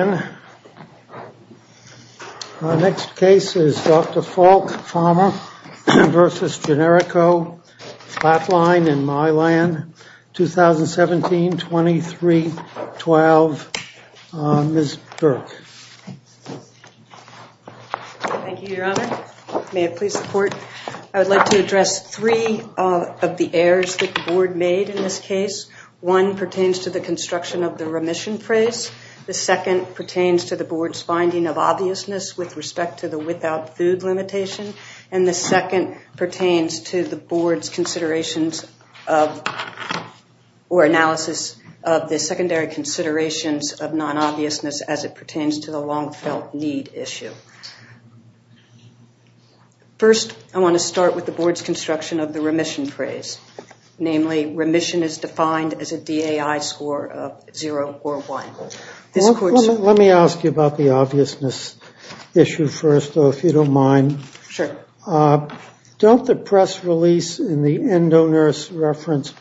May I please report? I would like to address three of the errors that the board made in this case. One pertains to the construction of the remission phrase. The second pertains to the board's finding of obviousness with respect to the without food limitation. And the second pertains to the board's considerations of or analysis of the secondary considerations of non-obviousness as it pertains to the long-felt need issue. First, I want to start with the board's construction of the remission phrase. Namely, remission is defined as a DAI score of 0 or 1. Let me ask you about the obviousness issue first, though, if you don't mind. Sure. Don't the press release and the EndoNurse reference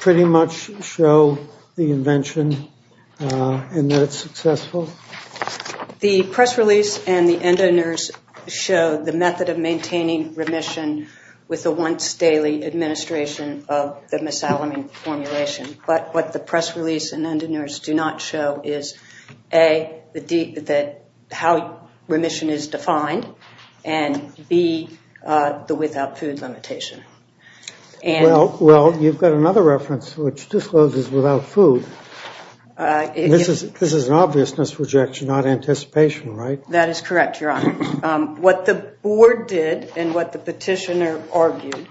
pretty much show the invention and that it's successful? The press release and the EndoNurse show the method of maintaining remission with the once daily administration of the misalignment formulation. But what the press release and EndoNurse do not show is A, how remission is defined, and B, the without food limitation. Well, you've got another reference which discloses without food. This is an obviousness rejection, not anticipation, right? That is correct, Your Honor. What the board did and what the petitioner argued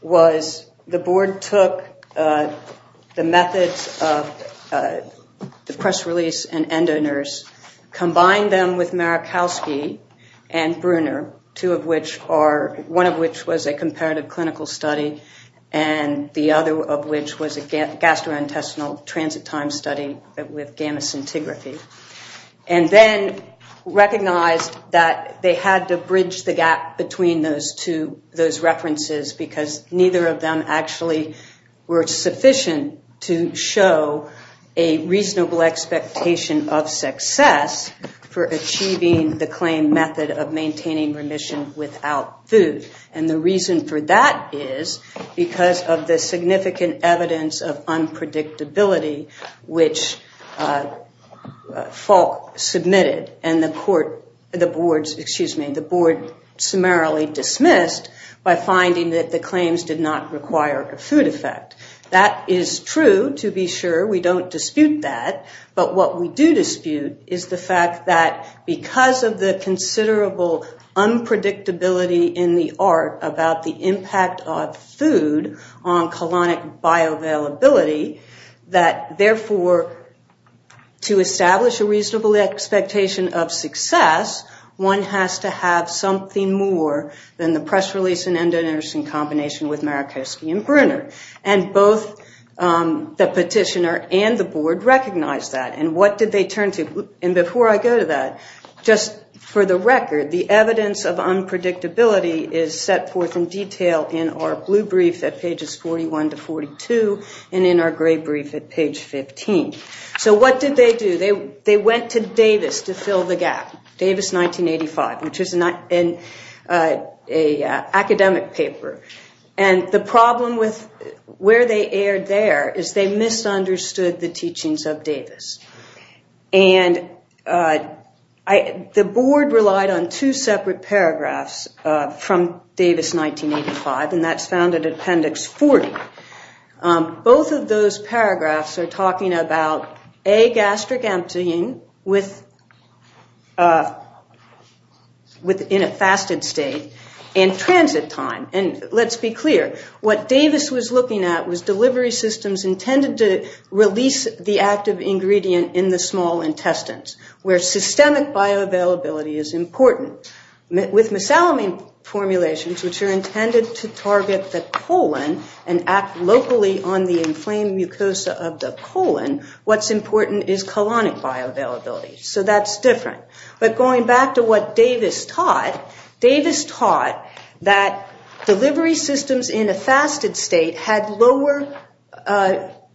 was the board took the methods of the press release and EndoNurse, combined them with Marikowski and Bruner, one of which was a comparative clinical study, and the other of which was a gastrointestinal transit time study with gamma scintigraphy. And then recognized that they had to bridge the gap between those two, those references, because neither of them actually were sufficient to show a reasonable expectation of success for achieving the claim method of maintaining remission without food. And the reason for that is because of the significant evidence of unpredictability which Falk submitted and the board summarily dismissed by finding that the claims did not require a food effect. That is true, to be sure. We don't dispute that. But what we do dispute is the fact that because of the considerable unpredictability in the art about the impact of food on colonic bioavailability, that therefore, to establish a reasonable expectation of success, one has to have something more than the press release and EndoNurse in combination with Marikowski and Bruner. And both the petitioner and the board recognized that. And what did they turn to? And before I go to that, just for the record, the evidence of unpredictability is set forth in detail in our blue brief at pages 41 to 42 and in our gray brief at page 15. So what did they do? They went to Davis to fill the gap, Davis 1985, which is an academic paper. And the problem with where they erred there is they misunderstood the teachings of Davis. And the board relied on two separate paragraphs from Davis 1985, and that's found in Appendix 40. Both of those paragraphs are talking about A, gastric emptying in a fasted state, and transit time. And let's be clear, what Davis was looking at was delivery systems intended to release the active ingredient in the small intestines, where systemic bioavailability is important. With mesalamine formulations, which are intended to target the colon and act locally on the inflamed mucosa of the colon, what's important is colonic bioavailability. So that's different. But going back to what Davis taught, Davis taught that delivery systems in a fasted state had lower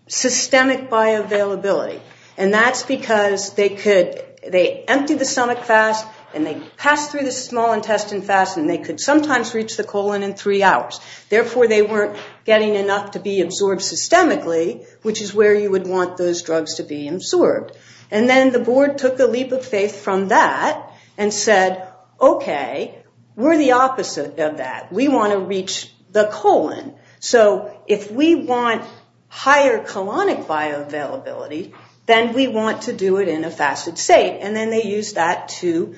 systemic bioavailability. And that's because they could, they emptied the stomach fast, and they passed through the small intestine fast, and they could sometimes reach the colon in three hours. Therefore, they weren't getting enough to be absorbed systemically, which is where you would want those drugs to be absorbed. And then the board took a leap of faith from that and said, okay, we're the opposite of that. We want to reach the colon. So if we want higher colonic bioavailability, then we want to do it in a fasted state. And then they used that to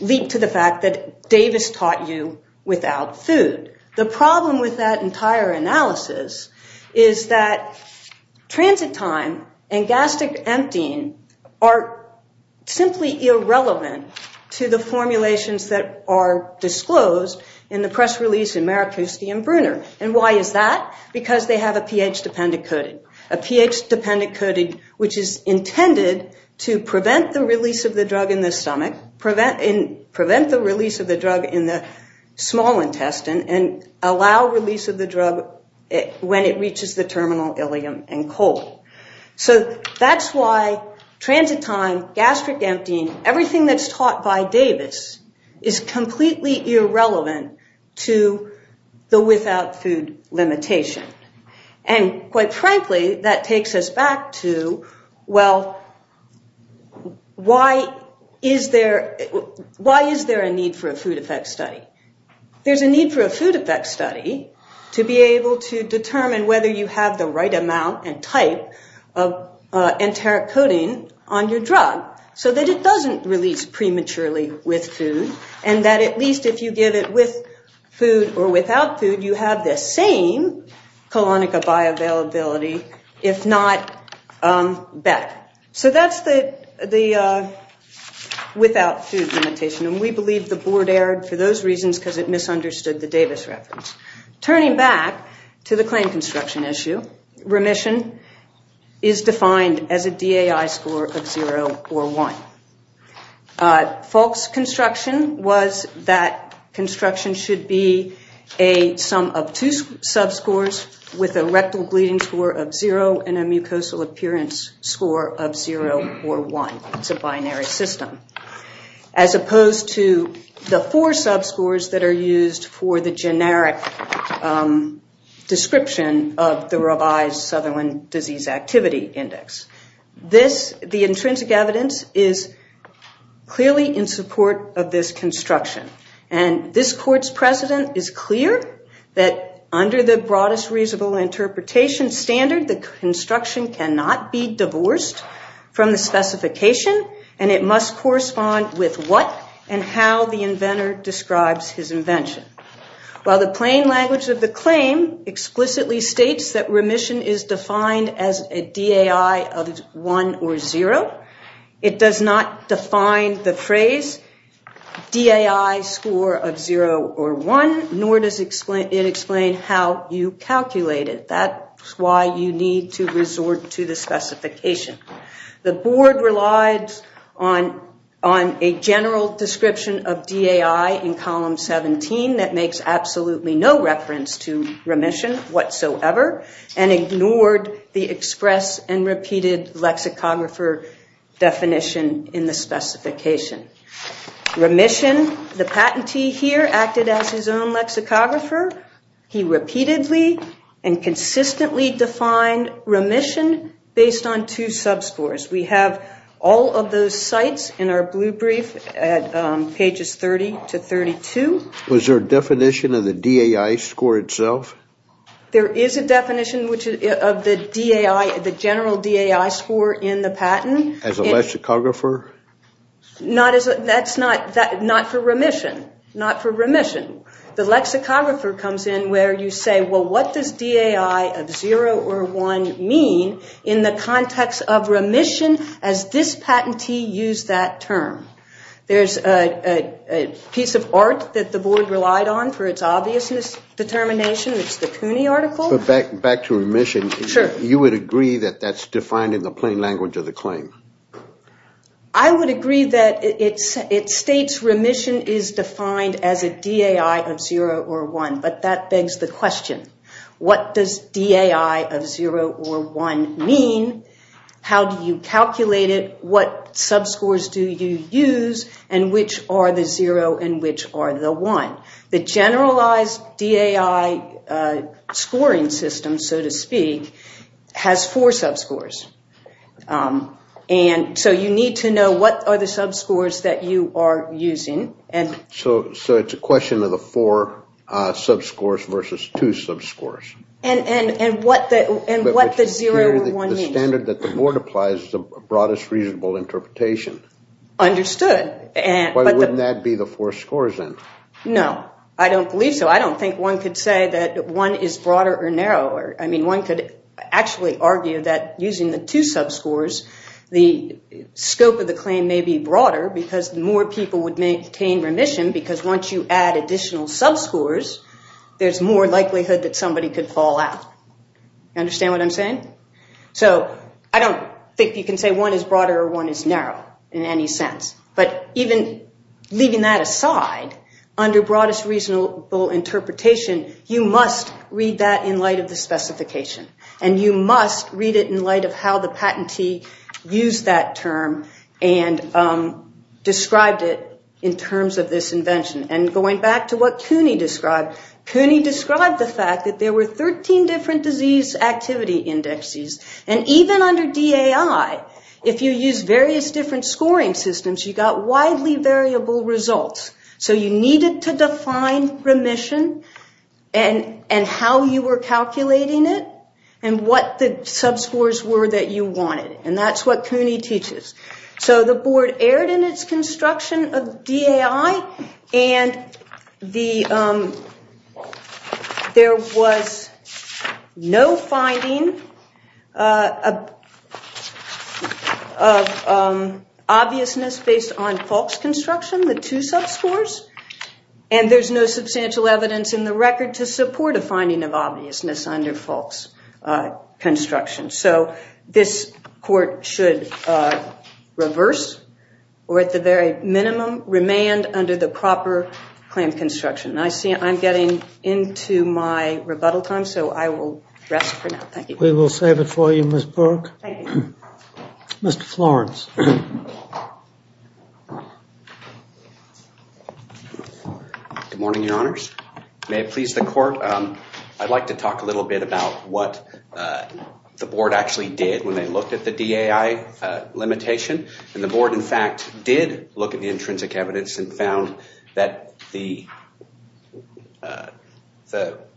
leap to the fact that Davis taught you without food. The problem with that entire analysis is that transit time and gastric emptying are simply irrelevant to the formulations that are disclosed in the press release in Maracusti and Bruner. And why is that? Because they have a pH-dependent coding, a pH-dependent coding which is intended to prevent the release of the drug in the stomach, prevent the release of the drug in the small intestine, and allow release of the drug when it reaches the terminal ileum and cold. So that's why transit time, gastric emptying, everything that's taught by Davis is completely irrelevant to the without food limitation. And quite frankly, that takes us back to, well, why is there a need for a food effect study? There's a need for a food effect study to be able to determine whether you have the right amount and type of enteric coding on your drug so that it doesn't release prematurely with food and that at least if you give it with food or without food, you have the same colonic bioavailability, if not better. So that's the without food limitation. And we believe the board erred for those reasons because it misunderstood the Davis reference. Turning back to the claim construction issue, remission is defined as a DAI score of 0 or 1. False construction was that construction should be a sum of two subscores with a rectal bleeding score of 0 and a mucosal appearance score of 0 or 1. It's a binary system. As opposed to the four subscores that are used for the generic description of the revised Sutherland Disease Activity Index. This, the intrinsic evidence, is clearly in support of this construction. And this court's precedent is clear that under the broadest reasonable interpretation standard, the construction cannot be divorced from the specification and it must correspond with what and how the inventor describes his invention. While the plain language of the claim explicitly states that remission is defined as a DAI of 1 or 0, it does not define the phrase DAI score of 0 or 1, nor does it explain how you calculate it. That's why you need to resort to the specification. The board relies on a general description of DAI in column 17 that makes absolutely no reference to remission whatsoever and ignored the express and repeated lexicographer definition in the specification. Remission, the patentee here acted as his own lexicographer. He repeatedly and consistently defined remission based on two subscores. We have all of those sites in our blue brief at pages 30 to 32. Was there a definition of the DAI score itself? There is a definition of the general DAI score in the patent. As a lexicographer? That's not for remission. Not for remission. The lexicographer comes in where you say, well, what does DAI of 0 or 1 mean in the context of remission as this patentee used that term? There's a piece of art that the board relied on for its obviousness determination. It's the CUNY article. Back to remission. Sure. You would agree that that's defined in the plain language of the claim? I would agree that it states remission is defined as a DAI of 0 or 1, but that begs the question, what does DAI of 0 or 1 mean? How do you calculate it? What subscores do you use and which are the 0 and which are the 1? The generalized DAI scoring system, so to speak, has four subscores. So you need to know what are the subscores that you are using. So it's a question of the four subscores versus two subscores. And what the 0 or 1 means. The standard that the board applies is the broadest reasonable interpretation. Understood. Why wouldn't that be the four scores then? No, I don't believe so. I don't think one could say that one is broader or narrower. I mean, one could actually argue that using the two subscores, the scope of the claim may be broader because more people would maintain remission because once you add additional subscores, there's more likelihood that somebody could fall out. You understand what I'm saying? So I don't think you can say one is broader or one is narrow in any sense. But even leaving that aside, under broadest reasonable interpretation, you must read that in light of the specification. And you must read it in light of how the patentee used that term and described it in terms of this invention. And going back to what Cooney described, Cooney described the fact that there were 13 different disease activity indexes. And even under DAI, if you use various different scoring systems, you got widely variable results. So you needed to define remission and how you were calculating it and what the subscores were that you wanted. And that's what Cooney teaches. So the board erred in its construction of DAI and there was no finding of obviousness based on false construction, the two subscores. And there's no substantial evidence in the record to support a finding of obviousness under false construction. So this court should reverse, or at the very minimum, remand under the proper claim construction. I'm getting into my rebuttal time, so I will rest for now. Thank you. We will save it for you, Ms. Burke. Thank you. Mr. Florence. Good morning, Your Honors. May it please the court, I'd like to talk a little bit about what the board actually did when they looked at the DAI limitation. And the board, in fact, did look at the intrinsic evidence and found that the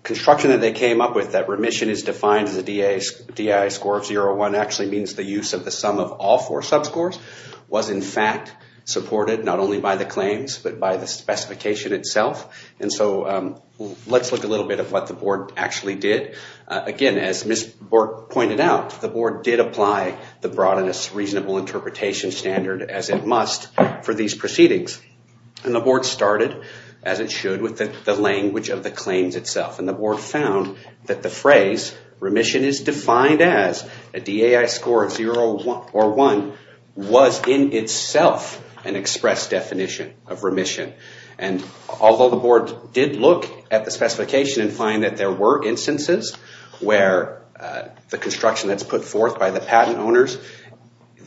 construction that they came up with, that remission is defined as a DAI score of 0 or 1, actually means the use of the sum of all four subscores, was, in fact, supported not only by the claims, but by the specification itself. And so let's look a little bit at what the board actually did. Again, as Ms. Burke pointed out, the board did apply the Broadness Reasonable Interpretation Standard, as it must, for these proceedings. And the board started, as it should, with the language of the claims itself. And the board found that the phrase, remission is defined as a DAI score of 0 or 1, was in itself an express definition of remission. And although the board did look at the specification and find that there were instances where the construction that's put forth by the patent owners,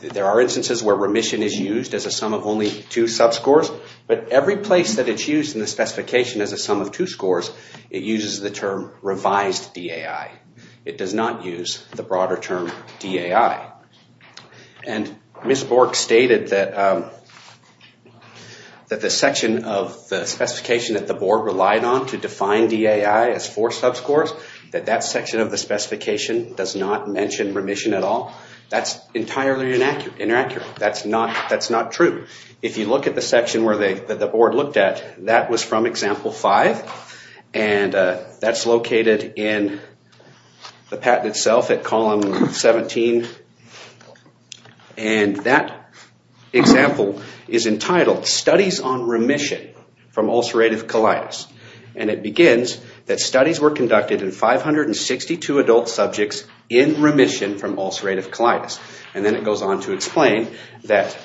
there are instances where remission is used as a sum of only two subscores, but every place that it's used in the specification as a sum of two scores, it uses the term revised DAI. It does not use the broader term DAI. And Ms. Burke stated that the section of the specification that the board relied on to define DAI as four subscores, that that section of the specification does not mention remission at all. That's entirely inaccurate. That's not true. If you look at the section that the board looked at, that was from example five, and that's located in the patent itself at column 17. And that example is entitled Studies on Remission from Ulcerative Colitis. And it begins that studies were conducted in 562 adult subjects in remission from ulcerative colitis. And then it goes on to explain that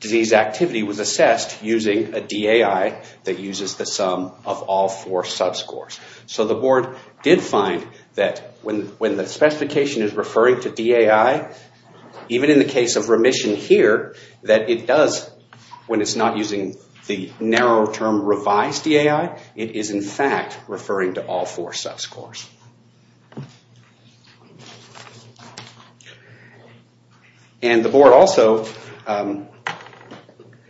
disease activity was assessed using a DAI that uses the sum of all four subscores. So the board did find that when the specification is referring to DAI, even in the case of remission here, that it does, when it's not using the narrow term revised DAI, it is in fact referring to all four subscores. And the board also,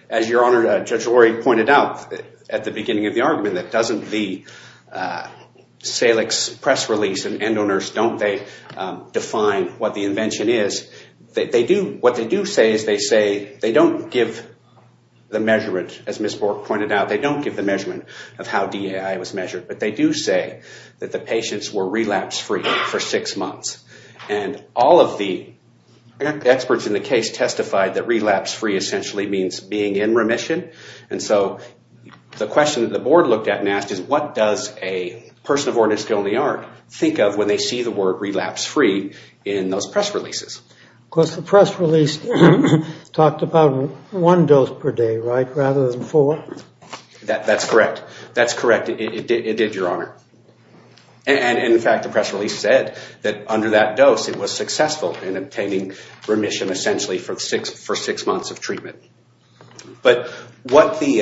as your honor, Judge Lurie pointed out at the beginning of the argument, that doesn't the Salix press release and EndoNurse, don't they define what the invention is. What they do say is they say they don't give the measurement, as Ms. Bork pointed out, they don't give the measurement of how DAI was measured. But they do say that the patients were relapse free for six months. And all of the experts in the case testified that relapse free essentially means being in remission. And so the question that the board looked at and asked is what does a person who is still in the yard think of when they see the word relapse free in those press releases. Of course the press release talked about one dose per day, right, rather than four? That's correct. That's correct, it did, your honor. And in fact the press release said that under that dose it was successful in obtaining remission essentially for six months of treatment. But what the,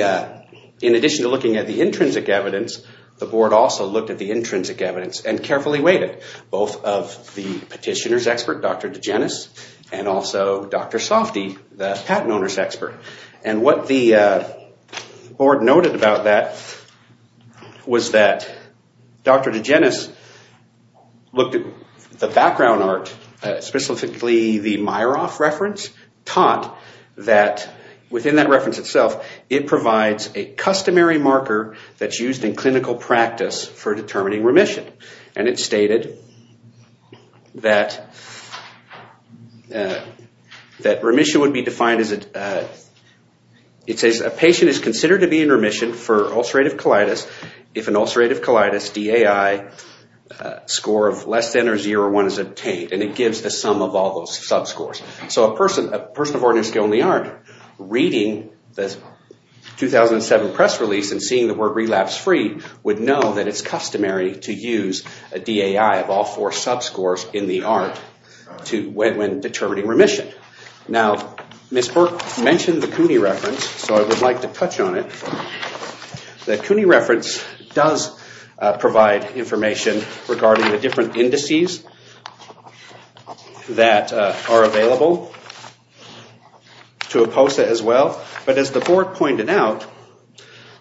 in addition to looking at the intrinsic evidence, the board also looked at the intrinsic evidence and carefully weighted both of the petitioner's expert, Dr. Degenes, and also Dr. Softy, the patent owner's expert. And what the board noted about that was that Dr. Degenes looked at the background art, specifically the Meyerhof reference, taught that within that reference itself it provides a customary marker that's used in clinical practice for determining remission. And it stated that remission would be defined as, it says a patient is considered to be in remission for ulcerative colitis if an ulcerative colitis, DAI, score of less than or zero one is obtained. And it gives the sum of all those sub-scores. So a person of ordinary skill in the yard reading the 2007 press release and seeing the word relapse-free would know that it's customary to use a DAI of all four sub-scores in the art when determining remission. Now, Ms. Burke mentioned the CUNY reference, so I would like to touch on it. The CUNY reference does provide information regarding the different indices that are available to IPOSA as well. But as the board pointed out,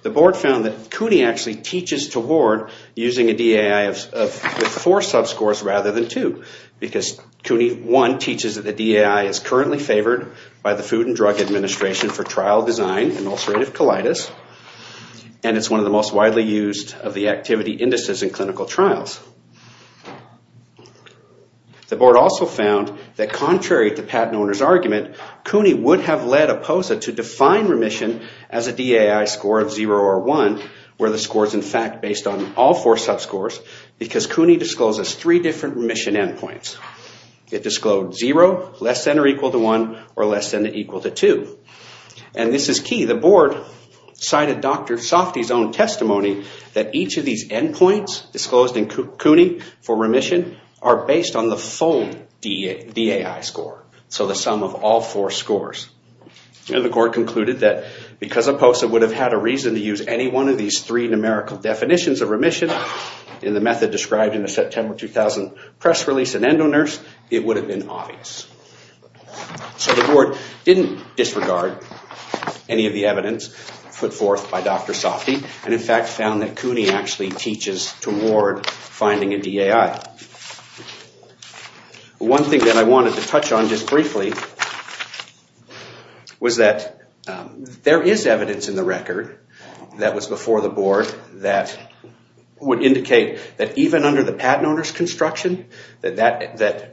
the board found that CUNY actually teaches toward using a DAI of four sub-scores rather than two because CUNY, one, teaches that the DAI is currently favored by the Food and Drug Administration for trial design in ulcerative colitis, and it's one of the most widely used of the activity indices in clinical trials. The board also found that contrary to patent owner's argument, CUNY would have led IPOSA to define remission as a DAI score of zero or one where the score is, in fact, based on all four sub-scores because CUNY discloses three different remission endpoints. It disclosed zero, less than or equal to one, or less than or equal to two. And this is key. The board cited Dr. Softe's own testimony that each of these endpoints disclosed in CUNY for remission are based on the full DAI score, so the sum of all four scores. And the board concluded that if CUNY would have had a reason to use any one of these three numerical definitions of remission in the method described in the September 2000 press release in EndoNurse, it would have been obvious. So the board didn't disregard any of the evidence put forth by Dr. Softe, and in fact found that CUNY actually teaches toward finding a DAI. One thing that I wanted to touch on just briefly was that there is evidence in the record that was before the board that would indicate that even under the patent owner's construction, that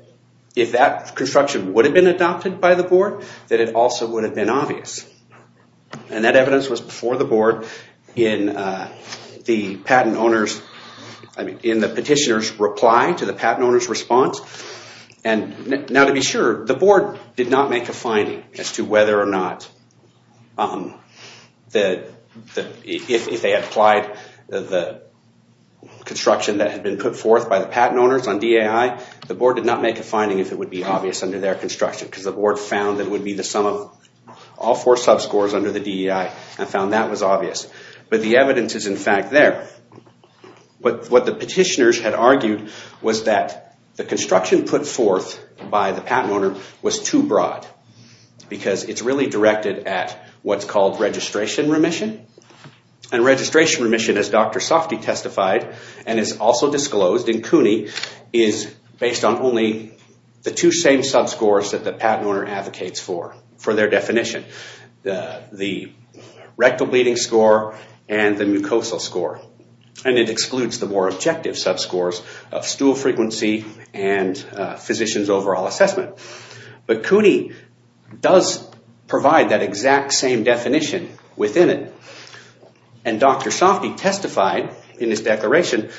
if that construction would have been adopted by the board, that it also would have been obvious. And that evidence was before the board in the petitioner's reply to the patent owner's response. And now to be sure, the board did not make a finding as to whether or not if they had applied the construction that had been put forth by the patent owners on DAI, the board did not make a finding if it would be obvious under their construction because the board found that it would be the sum of all four subscores under the DAI and found that was obvious. But the evidence is in fact there. But what the petitioners had argued was that the construction put forth by the patent owner was too broad because it's really directed at what's called registration remission. And registration remission, as Dr. Softe testified and is also disclosed in CUNY, is based on only the two same subscores that the patent owner advocates for for their definition. The rectal bleeding score and the mucosal score. And it excludes the more objective subscores of stool frequency for the overall assessment. But CUNY does provide that exact same definition within it. And Dr. Softe testified in his declaration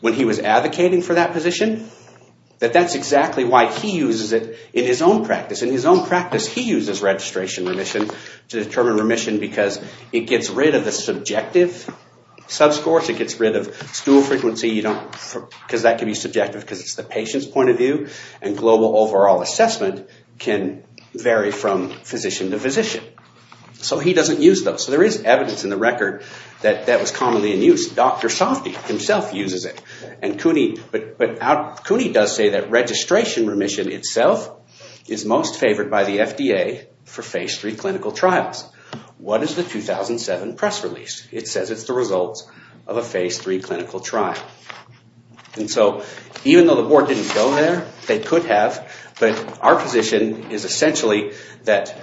when he was advocating for that position that that's exactly why he uses it in his own practice. In his own practice, he uses registration remission to determine remission because it gets rid of the subjective subscores. It gets rid of stool frequency because that can be subjective and the global overall assessment can vary from physician to physician. So he doesn't use those. So there is evidence in the record that that was commonly in use. Dr. Softe himself uses it. But CUNY does say that registration remission itself is most favored by the FDA for Phase III clinical trials. What is the 2007 press release? It says it's the results of a Phase III clinical trial. And so, even though the board didn't go there, they could have. But our position is essentially that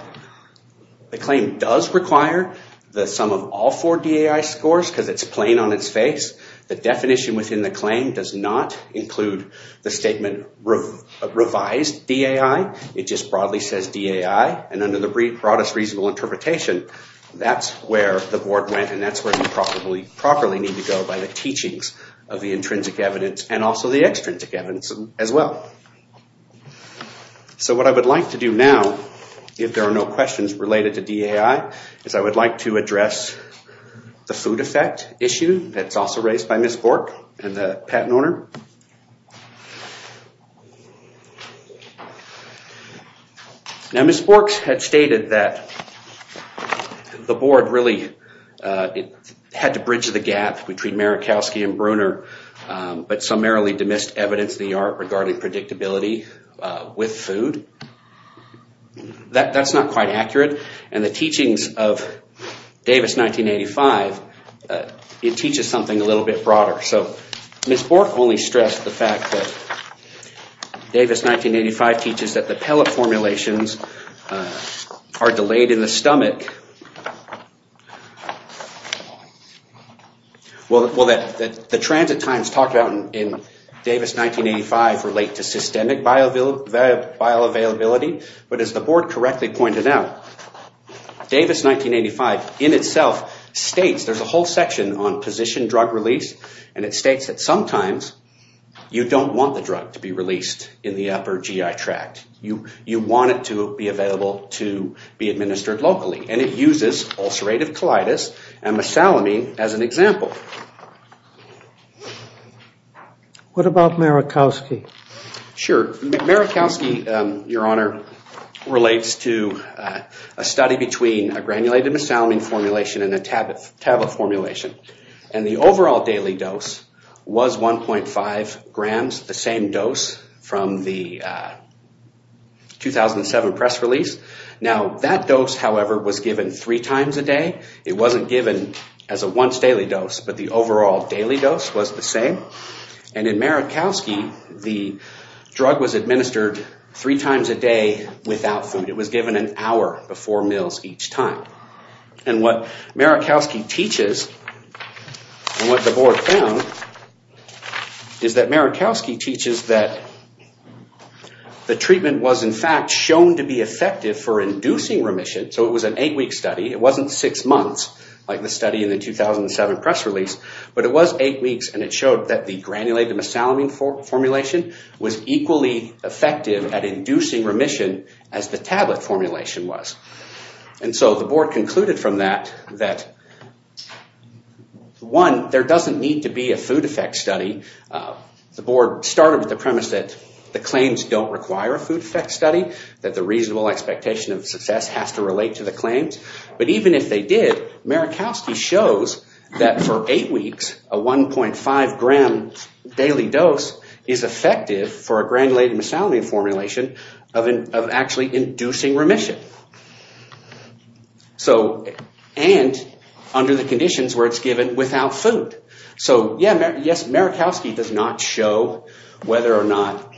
the claim does require the sum of all four DAI scores because it's plain on its face. The definition within the claim does not include the statement revised DAI. It just broadly says DAI. And under the broadest reasonable interpretation, that's where the board went and that's where they probably need to go by the teachings of the intrinsic evidence and also the extrinsic evidence as well. So what I would like to do now, if there are no questions related to DAI, is I would like to address the food effect issue that's also raised by Ms. Bork and the patent owner. Now Ms. Bork had stated that the board really had to bridge the gap between Marikowski and Bruner but summarily demissed evidence in the art regarding predictability with food. That's not quite accurate. And the teachings of Davis 1985, it teaches something a little bit broader. So Ms. Bork only stressed the fact that Davis 1985 teaches that the pellet formulations are delayed in the stomach and that the transit times talked about in Davis 1985 relate to systemic bioavailability but as the board correctly pointed out, Davis 1985 in itself states, there's a whole section on position drug release and it states that sometimes you don't want the drug to be released in the upper GI tract. You want it to be available to be administered locally and it uses ulcerative colitis and mesalamine as an example. What about Marikowski? Sure. Marikowski, Your Honor, relates to a study between a granulated mesalamine formulation and a tablet formulation and the overall daily dose was 1.5 grams, the same dose from the 2007 press release. Now that dose, however, was given three times a day. It wasn't given as a once daily dose but the overall daily dose was the same and in Marikowski, the drug was administered three times a day without food. It was given an hour before meals each time and what Marikowski teaches and what the board found is that Marikowski teaches that the treatment was in fact shown to be effective for inducing remission. So it was an eight week study. It wasn't six months like the study in the 2007 press release but it was eight weeks and it showed that the granulated mesalamine formulation was equally effective at inducing remission as the tablet formulation was and so the board concluded from that that one, there doesn't need to be a food effect study. The board started with the premise that the claims don't require a food effect study, it doesn't relate to the claims but even if they did, Marikowski shows that for eight weeks, a 1.5 gram daily dose is effective for a granulated mesalamine formulation of actually inducing remission and under the conditions where it's given without food. So yes, Marikowski does not show whether or not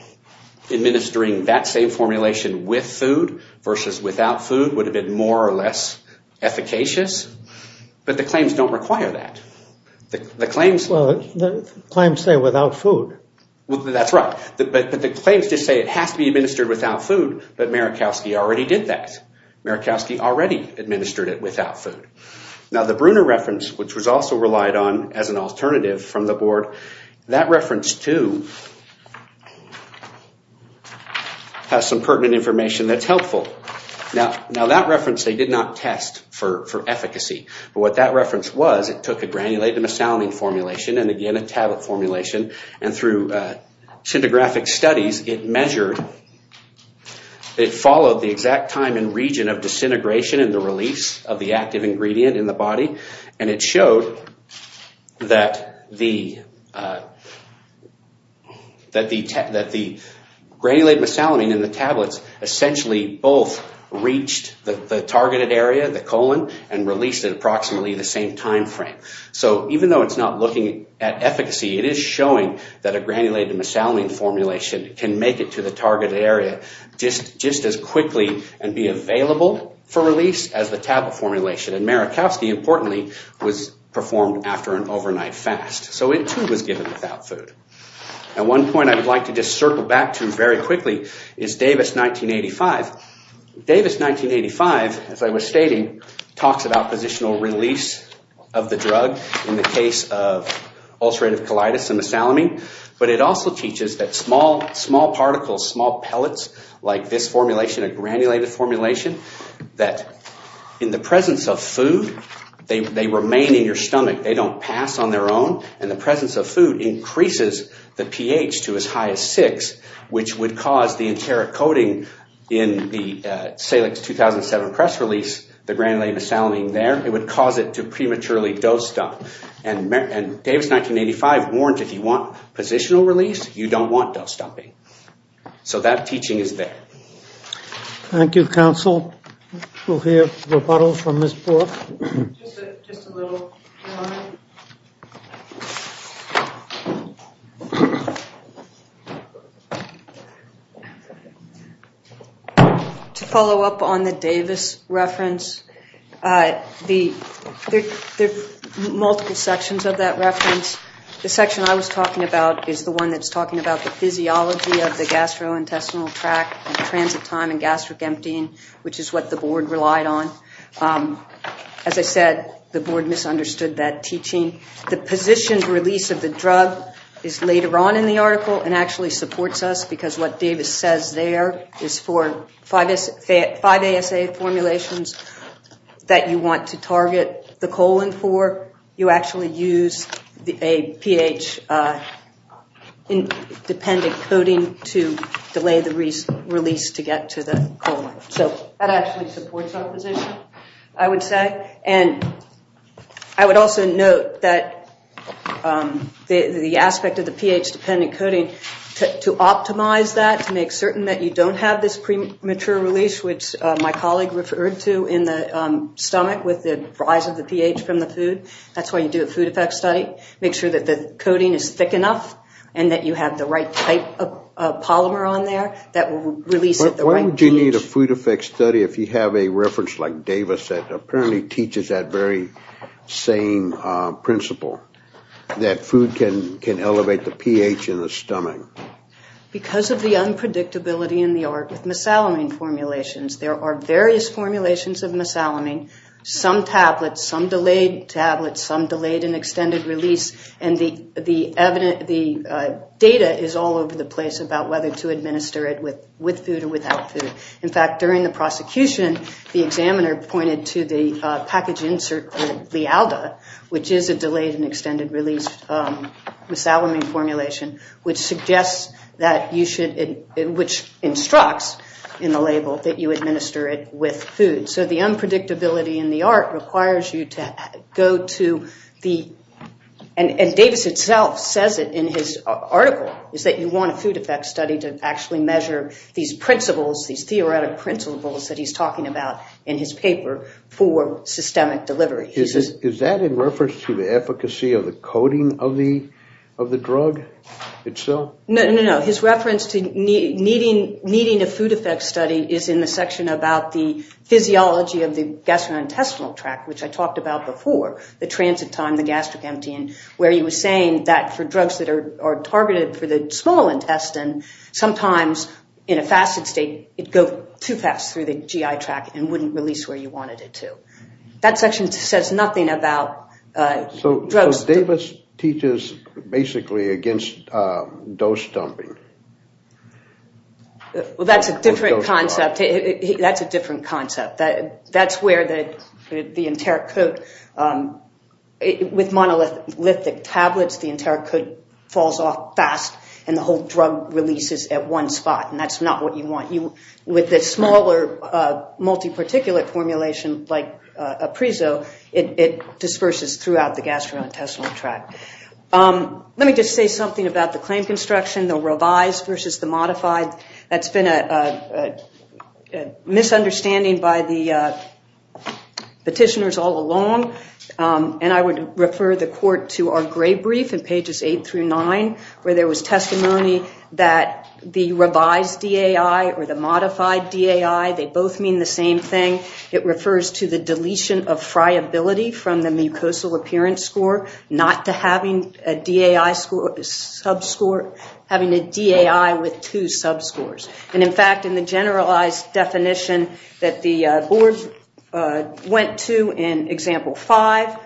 administering that same formulation with food versus without food would have been more or less efficacious but the claims don't require that. The claims... Well, the claims say without food. Well, that's right but the claims just say it has to be administered without food but Marikowski already did that. Marikowski already administered it without food. Now the Bruner reference which was also relied on as an alternative from the board, that reference too has some pertinent information that's available. Now that reference, they did not test for efficacy but what that reference was, it took a granulated mesalamine formulation and again a tablet formulation and through syndiographic studies, it measured, it followed the exact time and region of disintegration and the release of the active ingredient in the body and it showed that the granulated mesalamine in the tablets both reached the targeted area, the colon and released at approximately the same time frame. So even though it's not looking at efficacy, it is showing that a granulated mesalamine formulation can make it to the targeted area just as quickly and be available for release as the tablet formulation and Marikowski importantly was performed after an overnight fast so it too was given without food. Now one point I would like to just circle back to very quickly is Davis 1985 as I was stating talks about positional release of the drug in the case of ulcerative colitis and mesalamine but it also teaches that small particles, small pellets like this formulation, a granulated formulation that in the presence of food, they remain in your stomach. They don't pass on their own and the presence of food increases the pH to as high as 6 which would cause Salix 2007 press release the granulated mesalamine there, it would cause it to prematurely dose dump and Davis 1985 warned if you want positional release, you don't want dose dumping. So that teaching is there. Thank you counsel. We'll hear rebuttal from Ms. Brook. Just a little line. To follow up on the Davis reference, there are multiple sections of that reference. The section I was talking about is the one that's talking about the physiology of the gastrointestinal tract and transit time and gastric emptying which is what the board relied on. As I said, the board misunderstood that teaching. The board misunderstood that teaching the positioned release of the drug is later on in the article and actually supports us because what Davis says there is for 5-ASA formulations that you want to target the colon for. You actually use a pH dependent coding to delay the release to get to the colon. So that actually supports our position I would say. I would also note that the aspect of the pH dependent coding to optimize that to make certain that you don't have this premature release which my colleague referred to in the stomach with the rise of the pH from the food. That's why you do a food effect study. Make sure that the coding is thick enough and that you have the right type of polymer on there that will release at the right pH. Why would you need a food effect study that teaches that very same principle that food can elevate the pH in the stomach? Because of the unpredictability in the art with mesalamine formulations there are various formulations of mesalamine. Some tablets, some delayed tablets, some delayed and extended release and the data is all over the place about whether to administer it with food or without food. In fact during the prosecution there's a package insert called LiALDA which is a delayed and extended release mesalamine formulation which suggests that you should which instructs in the label that you administer it with food. So the unpredictability in the art requires you to go to the and Davis itself says it in his article is that you want a food effect study to actually measure these principles these theoretic principles of systemic delivery. Is that in reference to the efficacy of the coding of the of the drug itself? No, no, no. His reference to needing a food effect study is in the section about the physiology of the gastrointestinal tract which I talked about before. The transit time, the gastric emptying where he was saying that for drugs that are targeted for the small intestine sometimes in a fasted state it would go too fast and that section says nothing about drugs. So Davis teaches basically against dose dumping. Well that's a different concept. That's a different concept. That's where the the Enteric Code with monolithic tablets the Enteric Code falls off fast and the whole drug releases at one spot and that's not what you want. With the smaller so it disperses throughout the gastrointestinal tract. Let me just say something about the claim construction. The revised versus the modified. That's been a misunderstanding by the petitioners all along and I would refer the court to our gray brief in pages 8 through 9 where there was testimony that the revised DAI or the modified DAI they both mean the same thing. It refers to the friability from the mucosal appearance score not to having a DAI sub-score. Having a DAI with two sub-scores. And in fact in the generalized definition that the board went to in example 5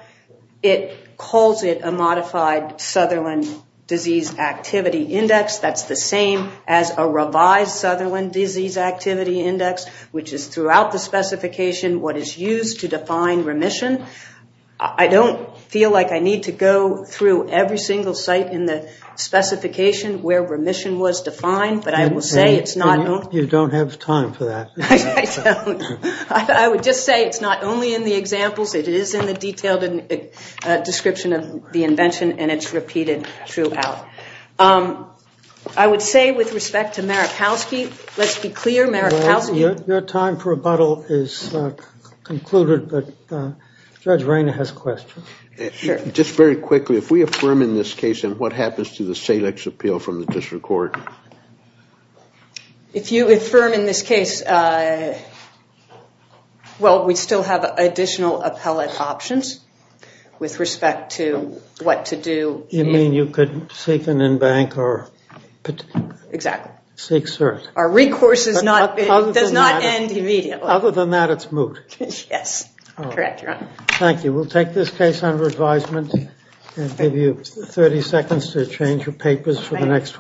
it calls it a modified Sutherland Disease Activity Index. That's the same as a revised Sutherland Disease Activity Index which is throughout the specification what is used to define remission. I don't feel like I need to go through every single site in the specification where remission was defined. But I will say it's not. You don't have time for that. I would just say it's not only in the examples. It is in the detailed description of the invention and it's repeated throughout. I would say with respect to Maripalsky let's be clear Maripalsky Your time for rebuttal is concluded but Judge Rainer has a question. Just very quickly if we affirm in this case and what happens to the SAILX appeal from the district court? If you affirm in this case well we still have additional appellate options with respect to what to do. You mean you could seek an in-bank or Exactly. Seek cert. Our recourse does not end immediately. Other than that it's moot. Yes. Thank you. We'll take this case under advisement and give you 30 seconds to change your papers for the next one.